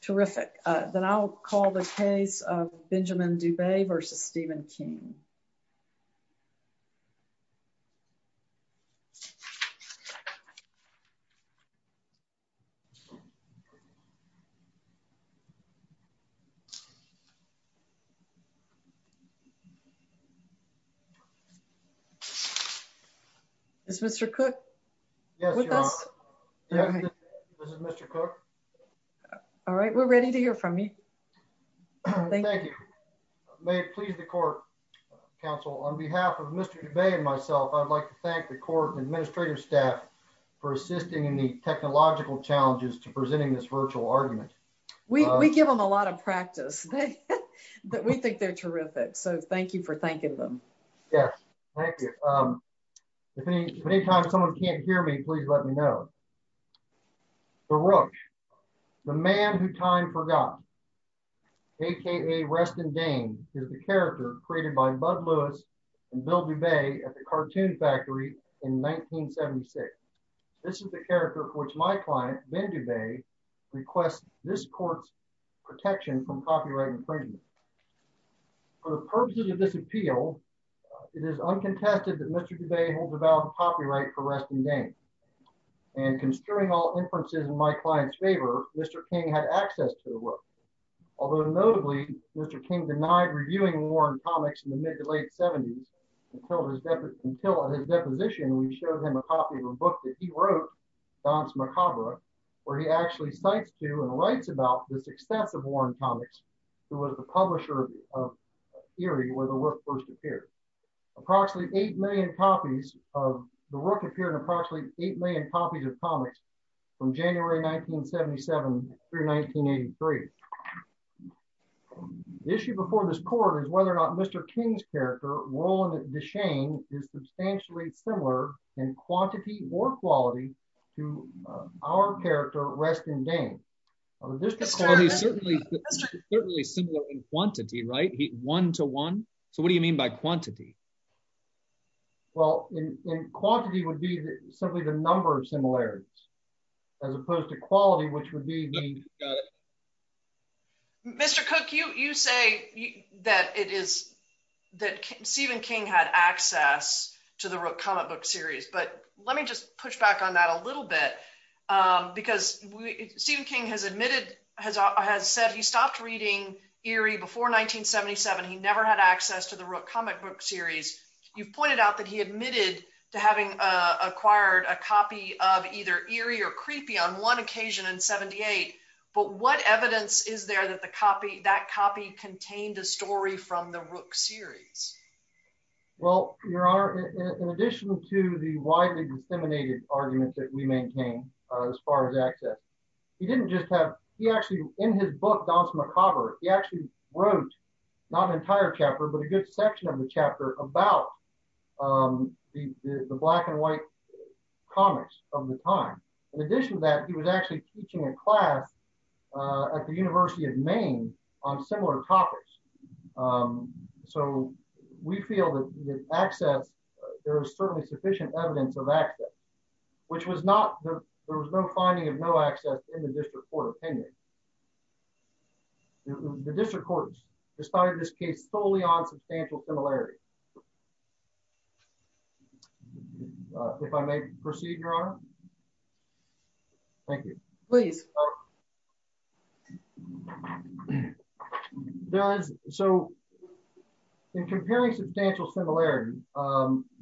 terrific then I'll call the case of Benjamin Dubay vs. Stephen King Mr. Cook. Yes, this is Mr. Cook. All right, we're ready to hear from me. Thank you. May it please the court, counsel, on behalf of Mr. Dubay and myself, I'd like to thank the court and administrative staff for assisting in the technological challenges to presenting this virtual argument. We give them a lot of practice. But we think they're terrific. So thank you for thanking them. Yes. Thank you. If any time someone can't hear me, please let me know. The Roach, the man who time forgot, aka Rest in Dane, is the character created by Bud Lewis and Bill Dubay at the Cartoon Factory in 1976. This is the character which my client, Ben Dubay, requests this court's protection from copyright infringement. For the purposes of this appeal, it is uncontested that Mr. Dubay holds about copyright for Rest in Dane. And conspiring all inferences in my client's favor, Mr. King had access to the work. Although notably, Mr. King denied reviewing Warren Comics in the mid to late 70s until his deposition, we showed him a copy of a book that he wrote, Don's Macabre, where he actually cites to and writes about this extensive Warren Comics, who was the publisher of Eerie, where the work first 8 million copies of comics from January 1977 through 1983. The issue before this court is whether or not Mr. King's character, Roland Deschain, is substantially similar in quantity or quality to our character, Rest in Dane. This is certainly similar in quantity, right? One to one? So what do you mean by quantity? Well, in quantity would be simply the number of similarities, as opposed to quality, which would be the... Mr. Cook, you say that it is that Stephen King had access to the comic book series, but let me just push back on that a little bit. Because Stephen King has admitted, has said he stopped reading Eerie before 1977. He never had access to the Rook comic book series. You've pointed out that he admitted to having acquired a copy of either Eerie or Creepy on one occasion in 78. But what evidence is there that the copy, that copy contained a story from the Rook series? Well, Your Honor, in addition to the widely disseminated arguments that we maintain, as far as access, he didn't just have, he actually, in his book, Danse Macabre, he actually wrote not an entire chapter, but a good section of the chapter about the black and white comics of the time. In addition to that, he was actually teaching a class at the University of Maine on similar topics. So we feel that access, there is certainly sufficient evidence of access, which was not, there was no finding of no access in the district court opinion. The district courts decided this case solely on substantial similarity. If I may proceed, Your Honor. Thank you. Please. So, in comparing substantial similarity,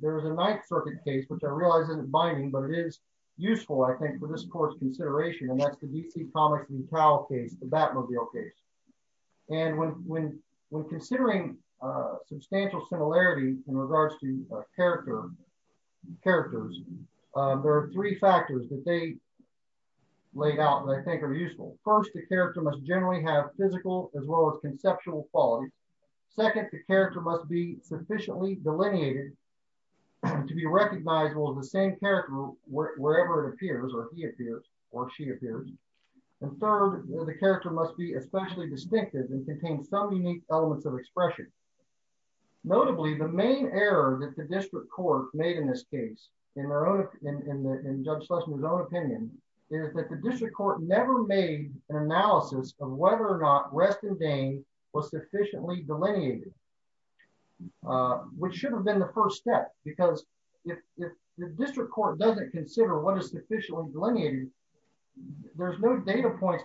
there's a Ninth Circuit case, which I realize isn't binding, but it is useful, I think, for this court's consideration, and that's the D.C. Comics v. Cowell case, the Batmobile case. And when considering substantial similarity in regards to character, characters, there are three factors that they laid out that I think are useful. First, the character must generally have physical as well as conceptual quality. Second, the character must be sufficiently delineated to be recognizable as the same character wherever it appears, or he appears, or she appears. And third, the character must be especially distinctive and contain some unique elements of expression. Notably, the main error that the district court made in this case, in Judge Schlesinger's own opinion, is that the district court never made an analysis of whether or not Reston-Dane was sufficiently delineated, which should have been the first step. Because if the district court doesn't consider what is sufficiently delineated, there's no data points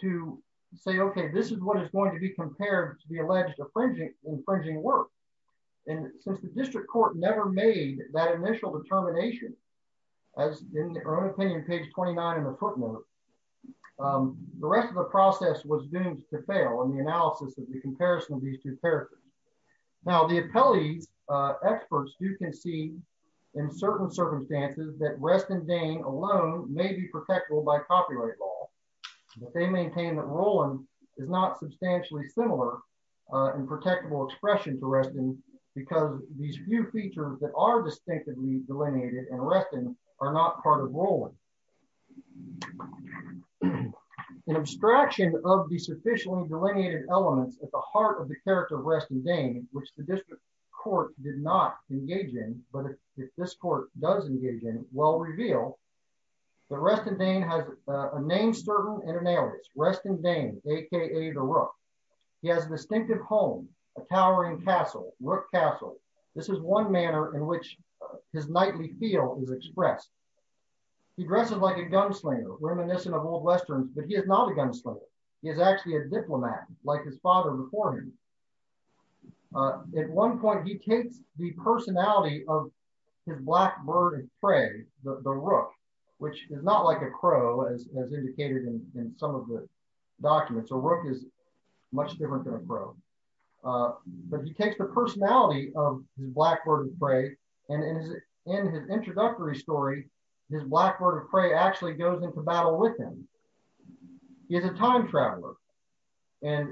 to say, okay, this is what is going to be compared to the alleged infringing work. And since the district court never made that initial determination, as in her own opinion, page 29 in the footnote, the rest of the process was doomed to fail in the analysis of the comparison of these two characters. Now, the appellee's experts do concede, in certain circumstances, that Reston-Dane alone may be protectable by copyright law. But they maintain that Rowland is not substantially similar in protectable expression to Reston, because these few features that are distinctively delineated in Reston are not part of Rowland. An abstraction of the sufficiently delineated elements at the heart of the character of Reston-Dane, which the district court did not engage in, but if this court does engage in, will reveal that Reston-Dane has a name certain and an alias, Reston-Dane, aka the Rook. He has a distinctive home, a towering castle, Rook Castle. This is one manner in which his knightly feel is expressed. He dresses like a gunslinger, reminiscent of old Westerns, but he is not a gunslinger. He is actually a diplomat, like his father before him. At one point, he takes the personality of his black bird and prey, the Rook, which is not like a crow, as indicated in some of the documents. A Rook is much different than a crow. But he takes the personality of his black bird and prey, and in his introductory story, his black bird and prey actually goes into battle with him. He is a time traveler. And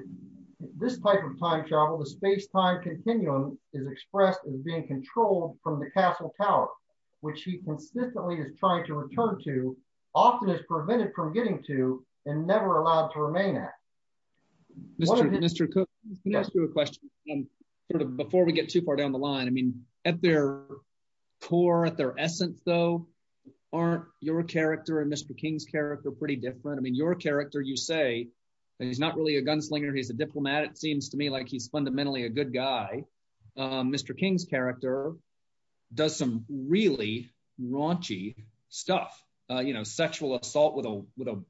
this type of time travel, the space-time continuum, is expressed as being controlled from the castle tower, which he consistently is trying to return to, often is prevented from getting to, and never allowed to remain at. Mr. Cook, can I ask you a question? Before we get too far down the line, I mean, at their core, at their essence, though, aren't your character and Mr. King's character pretty different? I mean, your character, you say that he's not really a gunslinger, he's a good guy. Mr. King's character does some really raunchy stuff, you know, sexual assault with a, with a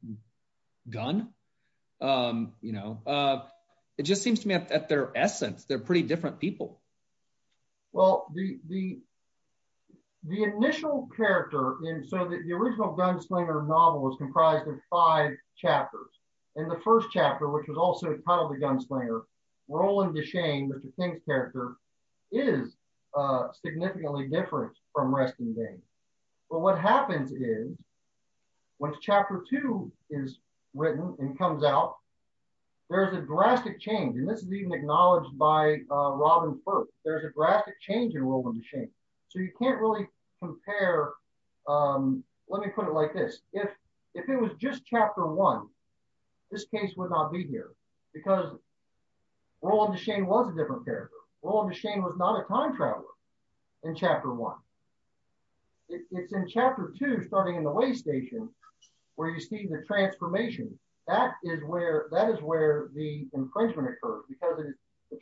gun. You know, it just seems to me at their essence, they're pretty different people. Well, the, the, the initial character in sort of the original gunslinger novel was comprised of five chapters. And the first chapter, which was also titled The Gunslinger, Roland Deschain, Mr. King's character, is significantly different from Reston Dayne. But what happens is, when chapter two is written and comes out, there's a drastic change, and this is even acknowledged by Robin Firth, there's a drastic change in Roland Deschain. So you can't really compare, let me put it like this, if, if it was just chapter one, this case would not be here, because Roland Deschain was a different character. Roland Deschain was not a time traveler in chapter one. It's in chapter two, starting in the way station, where you see the transformation, that is where, that is where the infringement occurs, because the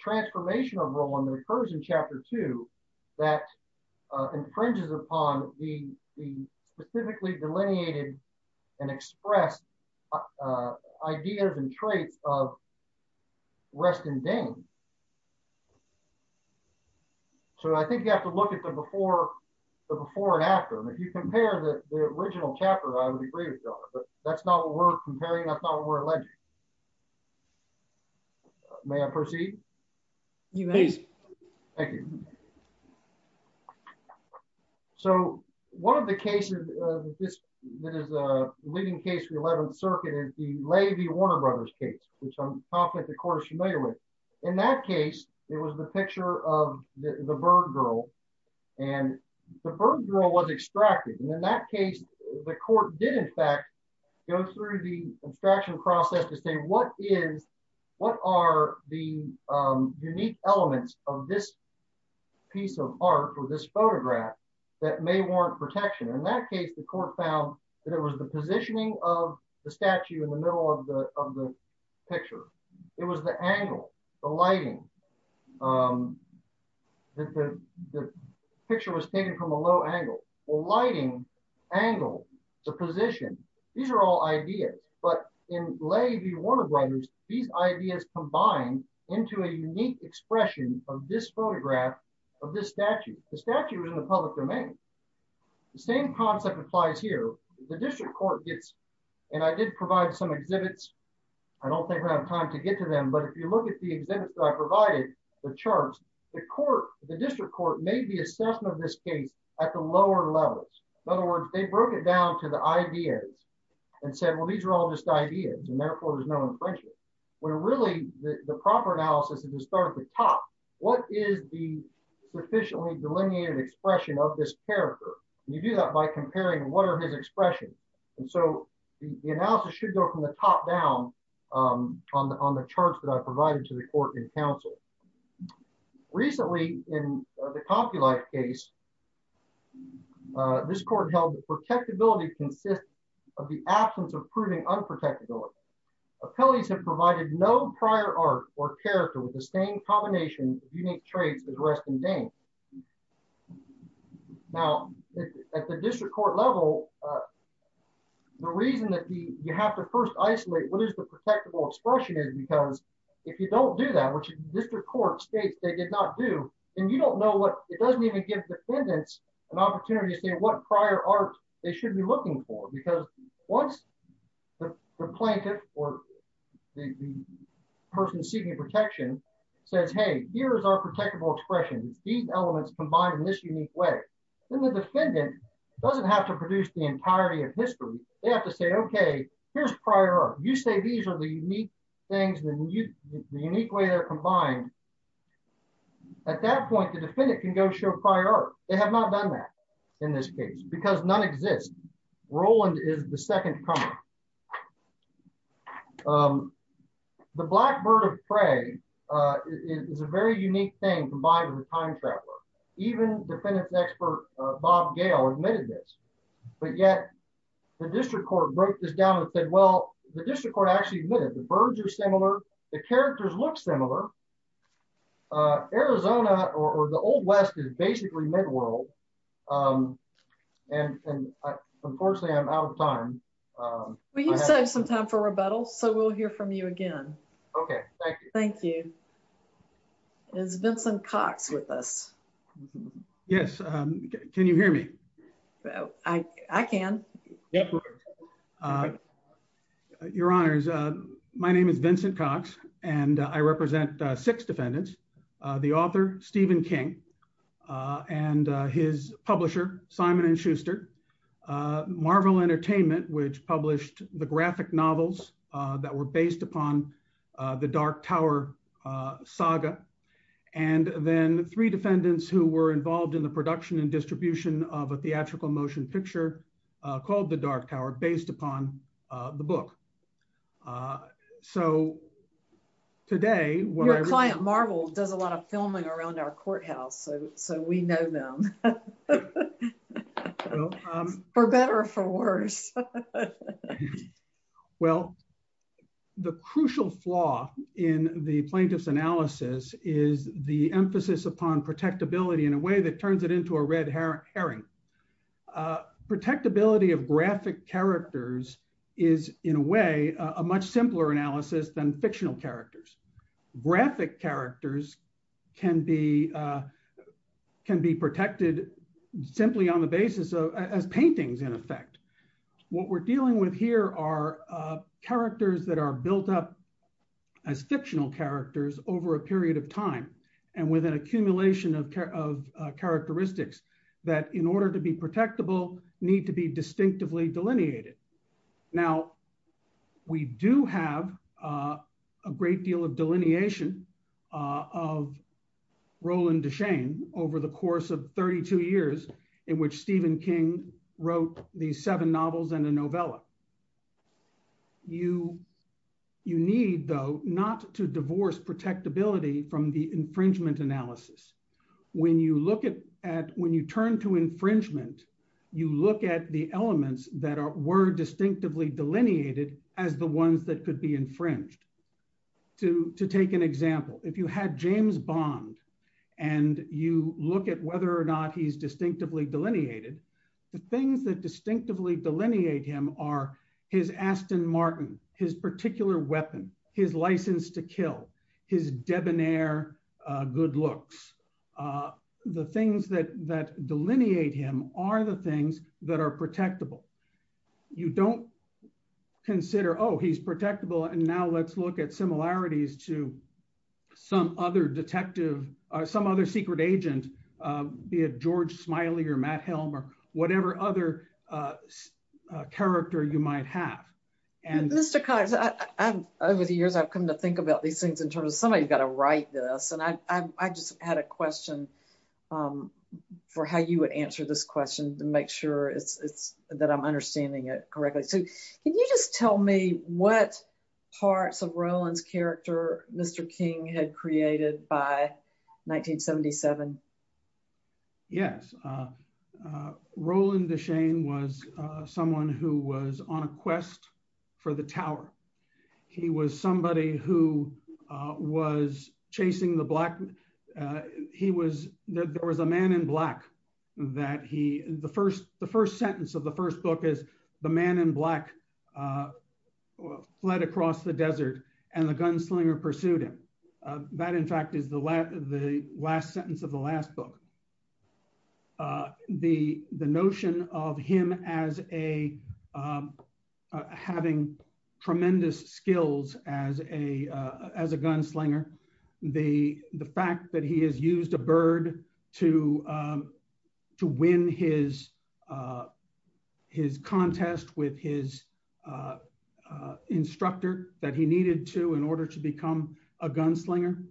traits of Reston Dayne. So I think you have to look at the before, the before and after. And if you compare the original chapter, I would agree with you on it, but that's not what we're comparing, that's not what we're alleging. May I proceed? You may. Thank you. So one of the cases that is a leading case for the 11th Circuit is the Levy-Warner Brothers case, which I'm confident the court is familiar with. In that case, it was the picture of the bird girl, and the bird girl was extracted. And in that case, the court did, in fact, go through the abstraction process to say, what is, what are the unique elements of this piece of art or this photograph that may warrant protection? In that case, the court found that it was the positioning of the statue in the of the picture. It was the angle, the lighting. The picture was taken from a low angle. Well, lighting, angle, the position, these are all ideas. But in Levy-Warner Brothers, these ideas combine into a unique expression of this photograph of this statue. The statue was in the public domain. The same concept applies here. The district court gets, and I did provide some I don't think I have time to get to them, but if you look at the exhibits that I provided, the charts, the court, the district court made the assessment of this case at the lower levels. In other words, they broke it down to the ideas and said, well, these are all just ideas, and therefore there's no infringement. Where really, the proper analysis is to start at the top. What is the sufficiently delineated expression of this character? You do that by comparing what are his expressions. And so the analysis should go from the top down on the charts that I provided to the court and counsel. Recently, in the Compulife case, this court held that protectability consists of the absence of proving unprotectability. Appellees have provided no prior art or character with the same combination of unique traits as Rest and Dain. Now, at the district court level, the reason that you have to first isolate what is the protectable expression is because if you don't do that, which the district court states they did not do, and you don't know what, it doesn't even give defendants an opportunity to say what prior art they should be looking for, because once the plaintiff or the person seeking protection says, hey, here's our protectable expression. It's equal. It's the same elements combined in this unique way. Then the defendant doesn't have to produce the entirety of history. They have to say, okay, here's prior art. You say these are the unique things, the unique way they're combined. At that point, the defendant can go show prior art. They have not done that in this case because none exist. Roland is the second comment. The black bird of prey is a very unique thing, combined with the time traveler. Even defendants expert Bob Gale admitted this, but yet the district court broke this down and said, well, the district court actually admitted the birds are similar. The characters look similar. Arizona or the Old West is basically mid-world. And unfortunately, I'm out of time. We saved some time for rebuttal. So we'll hear from you again. Okay, thank you. Is Vincent Cox with us? Yes. Can you hear me? I can. Yeah. Your Honors, my name is Vincent Cox and I represent six defendants. The author, Stephen King, and his publisher, Simon & Schuster. Marvel Entertainment, which published the graphic novels that were based upon the Dark Tower saga. And then three defendants who were involved in the production and distribution of a theatrical motion picture called The Dark Tower, based upon the book. So today, Your client, Marvel, does a lot of filming around our courthouse, so we know them. For better or for worse. Well, the crucial flaw in the plaintiff's analysis is the emphasis upon protectability in a way that turns it into a red herring. Protectability of graphic characters is, in a way, a much simpler analysis than fictional characters. Graphic characters can be What we're dealing with here are characters that are built up as fictional characters over a period of time and with an accumulation of characteristics that, in order to be protectable, need to be distinctively delineated. Now we do have A great deal of delineation of Roland Deschain over the course of 32 years in which Stephen King wrote the seven novels and a novella. You need, though, not to divorce protectability from the infringement analysis. When you look at, when you turn to infringement, you look at the elements that were distinctively delineated as the ones that could be infringed. To take an example, if you had James Bond and you look at whether or not he's distinctively delineated, the things that distinctively delineate him are his Aston Martin, his particular weapon, his license to kill, his debonair good looks. The things that that delineate him are the things that are protectable. You don't consider, oh, he's protectable and now let's look at similarities to some other detective or some other secret agent, be it George Smiley or Matt Helm or whatever other character you might have. And Mr. Cox, over the years I've come to think about these things in terms of somebody's got to write this and I just had a question. For how you would answer this question to make sure it's that I'm understanding it correctly. So can you just tell me what parts of Roland's character, Mr. King had created by 1977? Yes. So, Roland Deschenes was someone who was on a quest for the tower. He was somebody who was chasing the black. He was, there was a man in black that he, the first the first sentence of the first book is the man in black fled across the desert and the gunslinger pursued him. That, in fact, is the last the last sentence of the last book. The notion of him as a having tremendous skills as a gunslinger, the fact that he has used a bird to to win his his contest with his instructor that he needed to in order to become a gunslinger.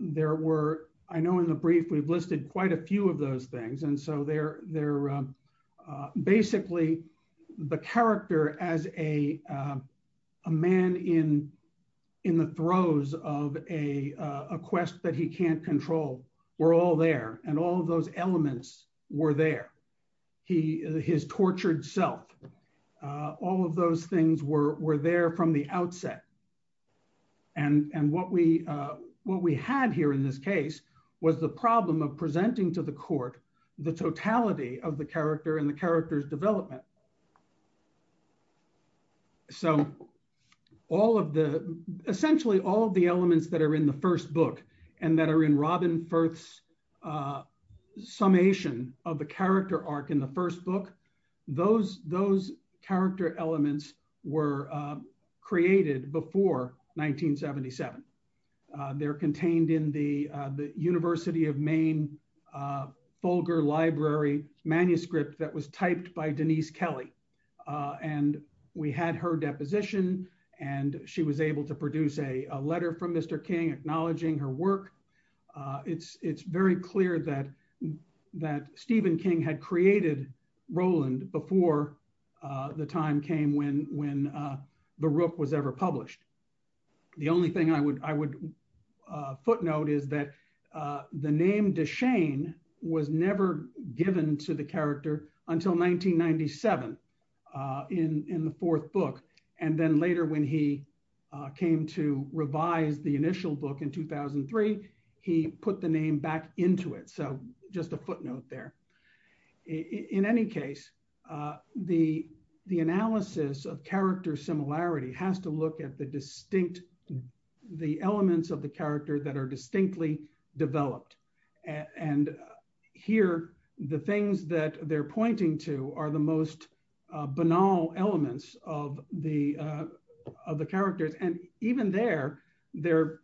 There were, I know in the brief we've listed quite a few of those things. And so they're they're basically the character as a a man in in the throes of a quest that he can't control. We're all there and all those elements were there. He, his tortured self, all of those things were there from the outset. And what we what we had here in this case was the problem of presenting to the court, the totality of the character and the character's development. So all of the essentially all of the elements that are in the first book and that are in Robin Firth's summation of the character arc in the first book. Those, those character elements were created before 1977. They're contained in the University of Maine Folger library manuscript that was typed by Denise Kelly and we had her deposition and she was able to produce a letter from Mr. King acknowledging her work. It's, it's very clear that that Stephen King had created Roland before the time came when when the Rook was ever published. The only thing I would, I would footnote is that the name Deschenes was never given to the character until 1997 in the fourth book and then later when he came to revise the initial book in 2003 he put the name back into it. So just a footnote there. In any case, the, the analysis of character similarity has to look at the distinct the elements of the character that are distinctly developed and here the things that they're pointing to are the most banal elements of the of the characters and even there, they're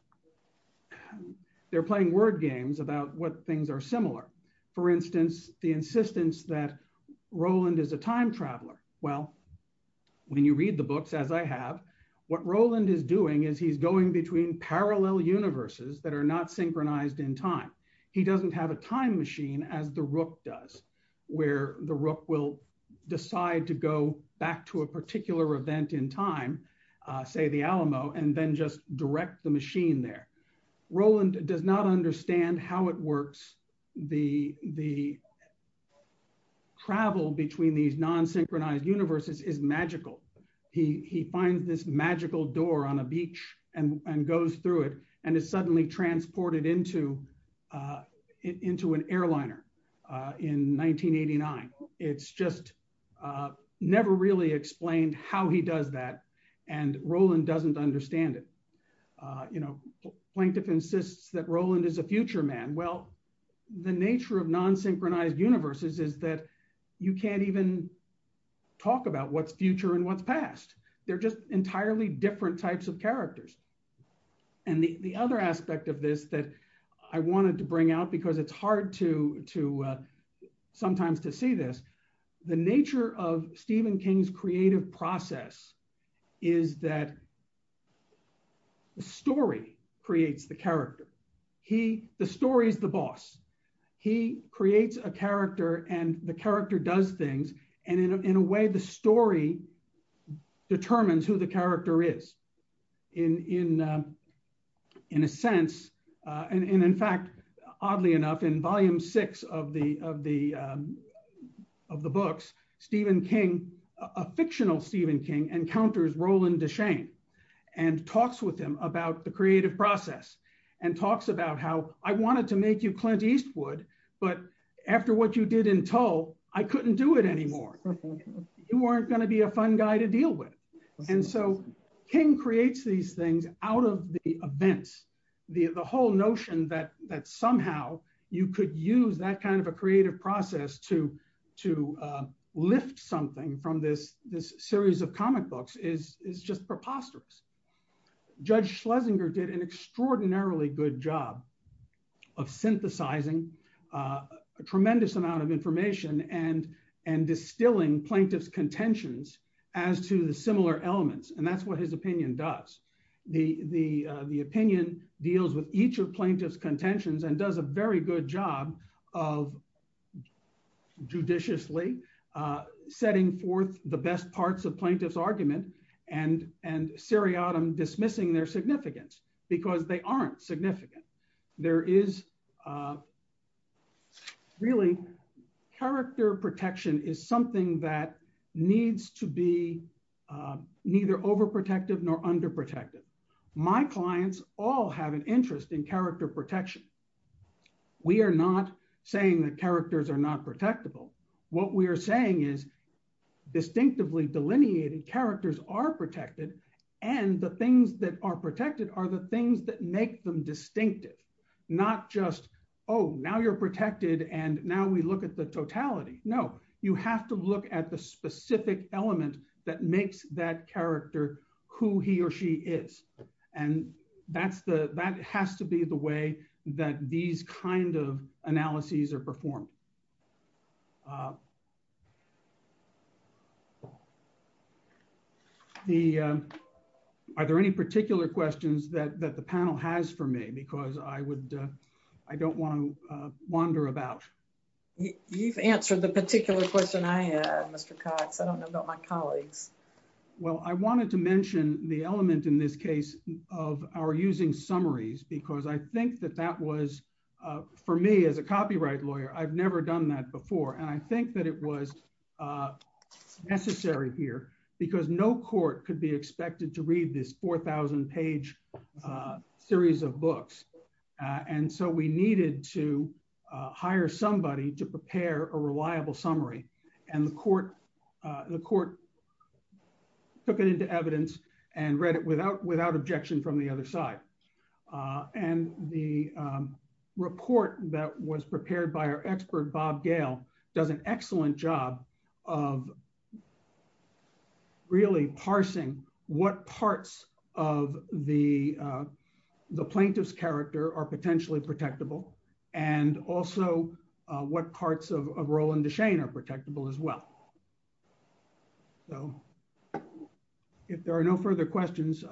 they're playing word games about what things are similar. For instance, the insistence that Roland is a time traveler. Well, when you read the books, as I have, what Roland is doing is he's going between parallel universes that are not synchronized in time. He doesn't have a time machine as the Rook does, where the Rook will decide to go back to a particular event in time, say the Alamo, and then just direct the machine there. Roland does not understand how it works. The, the travel between these non synchronized universes is magical. He finds this magical door on a beach and goes through it and is suddenly transported into into an airliner in 1989. It's just never really explained how he does that and Roland doesn't understand it. You know, Plaintiff insists that Roland is a future man. Well, the nature of non synchronized universes is that you can't even talk about what's future and what's past. They're just entirely different types of characters. And the other aspect of this that I wanted to bring out because it's hard to to sometimes to see this, the nature of Stephen King's creative process is that the story creates the character. He, the story is the boss. He creates a character and the character does things and in a way the story determines who the character is in in a sense, and in fact, oddly enough, in volume six of the of the books Stephen King, a fictional Stephen King, encounters Roland Deschain and talks with him about the creative process and talks about how I wanted to make you Clint Eastwood, but after what you did in Tull, I couldn't do it anymore. You weren't going to be a fun guy to deal with. And so King creates these things out of the events, the, the whole notion that that somehow you could use that kind of a creative process to lift something from this this series of comic books is just preposterous. Judge Schlesinger did an extraordinarily good job of synthesizing a tremendous amount of information and and distilling plaintiff's contentions as to the similar elements and that's what his opinion does. The, the, the opinion deals with each of plaintiff's contentions and does a very good job of judiciously setting forth the best parts of plaintiff's argument and and seriatim dismissing their significance because they aren't significant. There is Really, character protection is something that needs to be neither overprotective nor underprotective. My clients all have an interest in character protection. We are not saying that characters are not protectable. What we are saying is distinctively delineated characters are protected and the things that are protected are the things that make them distinctive, not just Oh, now you're protected. And now we look at the totality. No, you have to look at the specific element that makes that character who he or she is. And that's the that has to be the way that these kind of analyses are performed. The Are there any particular questions that that the panel has for me because I would, I don't want to wander about You've answered the particular question I had, Mr. Cox. I don't know about my colleagues. Well, I wanted to mention the element in this case of our using summaries, because I think that that was for me as a copyright lawyer. I've never done that before. And I think that it was Necessary here because no court could be expected to read this 4000 page series of books. And so we needed to hire somebody to prepare a reliable summary and the court, the court. Took it into evidence and read it without without objection from the other side and the report that was prepared by our expert Bob Gale does an excellent job of Really parsing what parts of the the plaintiff's character are potentially protectable and also what parts of a role in the Shane are protectable as well. So, If there are no further questions.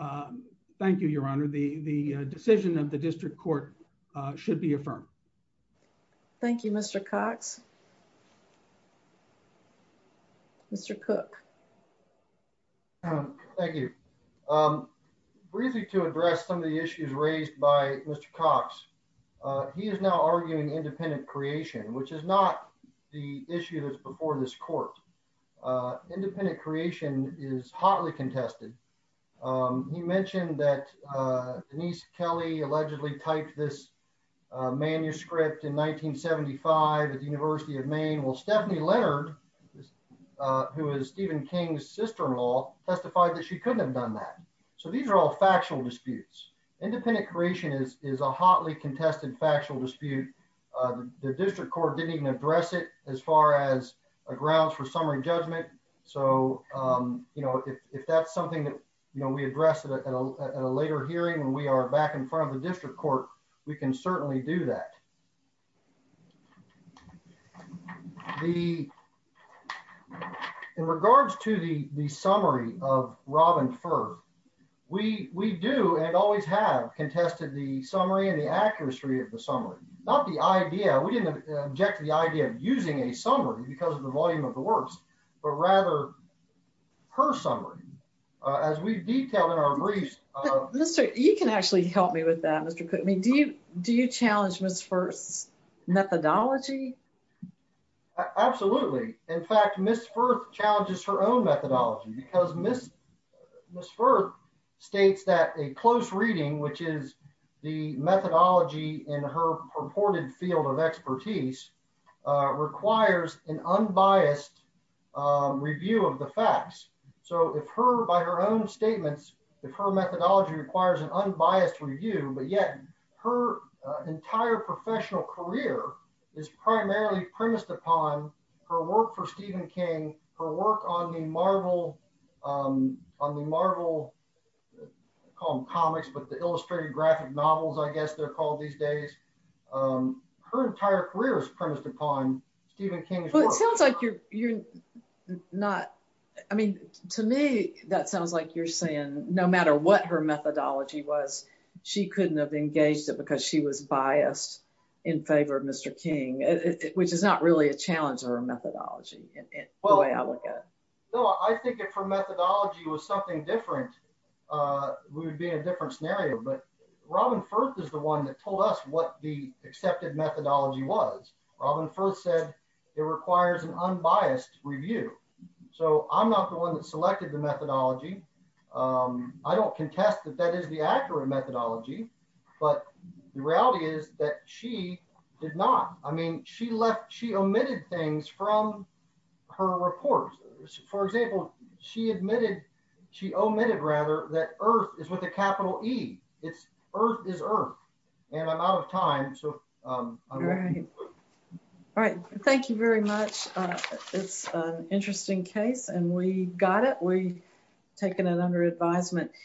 Thank you, Your Honor. The, the decision of the district court should be affirmed. Thank you, Mr. Cox. Mr. Cook Thank you. Briefly to address some of the issues raised by Mr. Cox, he is now arguing independent creation, which is not the issue that's before this court. Independent creation is hotly contested He mentioned that Denise Kelly allegedly typed this manuscript in 1975 at the University of Maine will Stephanie Leonard Who is Stephen King's sister law testified that she couldn't have done that. So these are all factual disputes independent creation is is a hotly contested factual dispute. The district court didn't even address it as far as a grounds for summary judgment. So, you know, if that's something that you know we address it at a later hearing and we are back in front of the district court, we can certainly do that. The In regards to the the summary of Robin first we we do and always have contested the summary and the accuracy of the summary, not the idea. We didn't object to the idea of using a summary because of the volume of the works, but rather her summary as we detail in our briefs. You can actually help me with that. Mr. Put me. Do you do you challenge was first methodology. Absolutely. In fact, Miss first challenges her own methodology because Miss Miss first states that a close reading, which is the methodology in her purported field of expertise. Requires an unbiased review of the facts. So if her by her own statements, if her methodology requires an unbiased review, but yet her entire professional career is primarily premised upon her work for Stephen King for work on the Marvel. On the Marvel. Call them comics, but the illustrative graphic novels. I guess they're called these days. Her entire career is premised upon Stephen King. Well, it sounds like you're not. I mean, to me, that sounds like you're saying no matter what her methodology was she couldn't have engaged it because she was biased in favor of Mr. King, which is not really a challenge or a methodology. Well, I think it for methodology was something different would be a different scenario, but Robin first is the one that told us what the accepted methodology was Robin first said it requires an unbiased review. So I'm not the one that selected the methodology. I don't contest that that is the accurate methodology, but the reality is that she did not. I mean, she left. She omitted things from her report. For example, she admitted she omitted rather that Earth is with a capital E. It's Earth is Earth and I'm out of time. So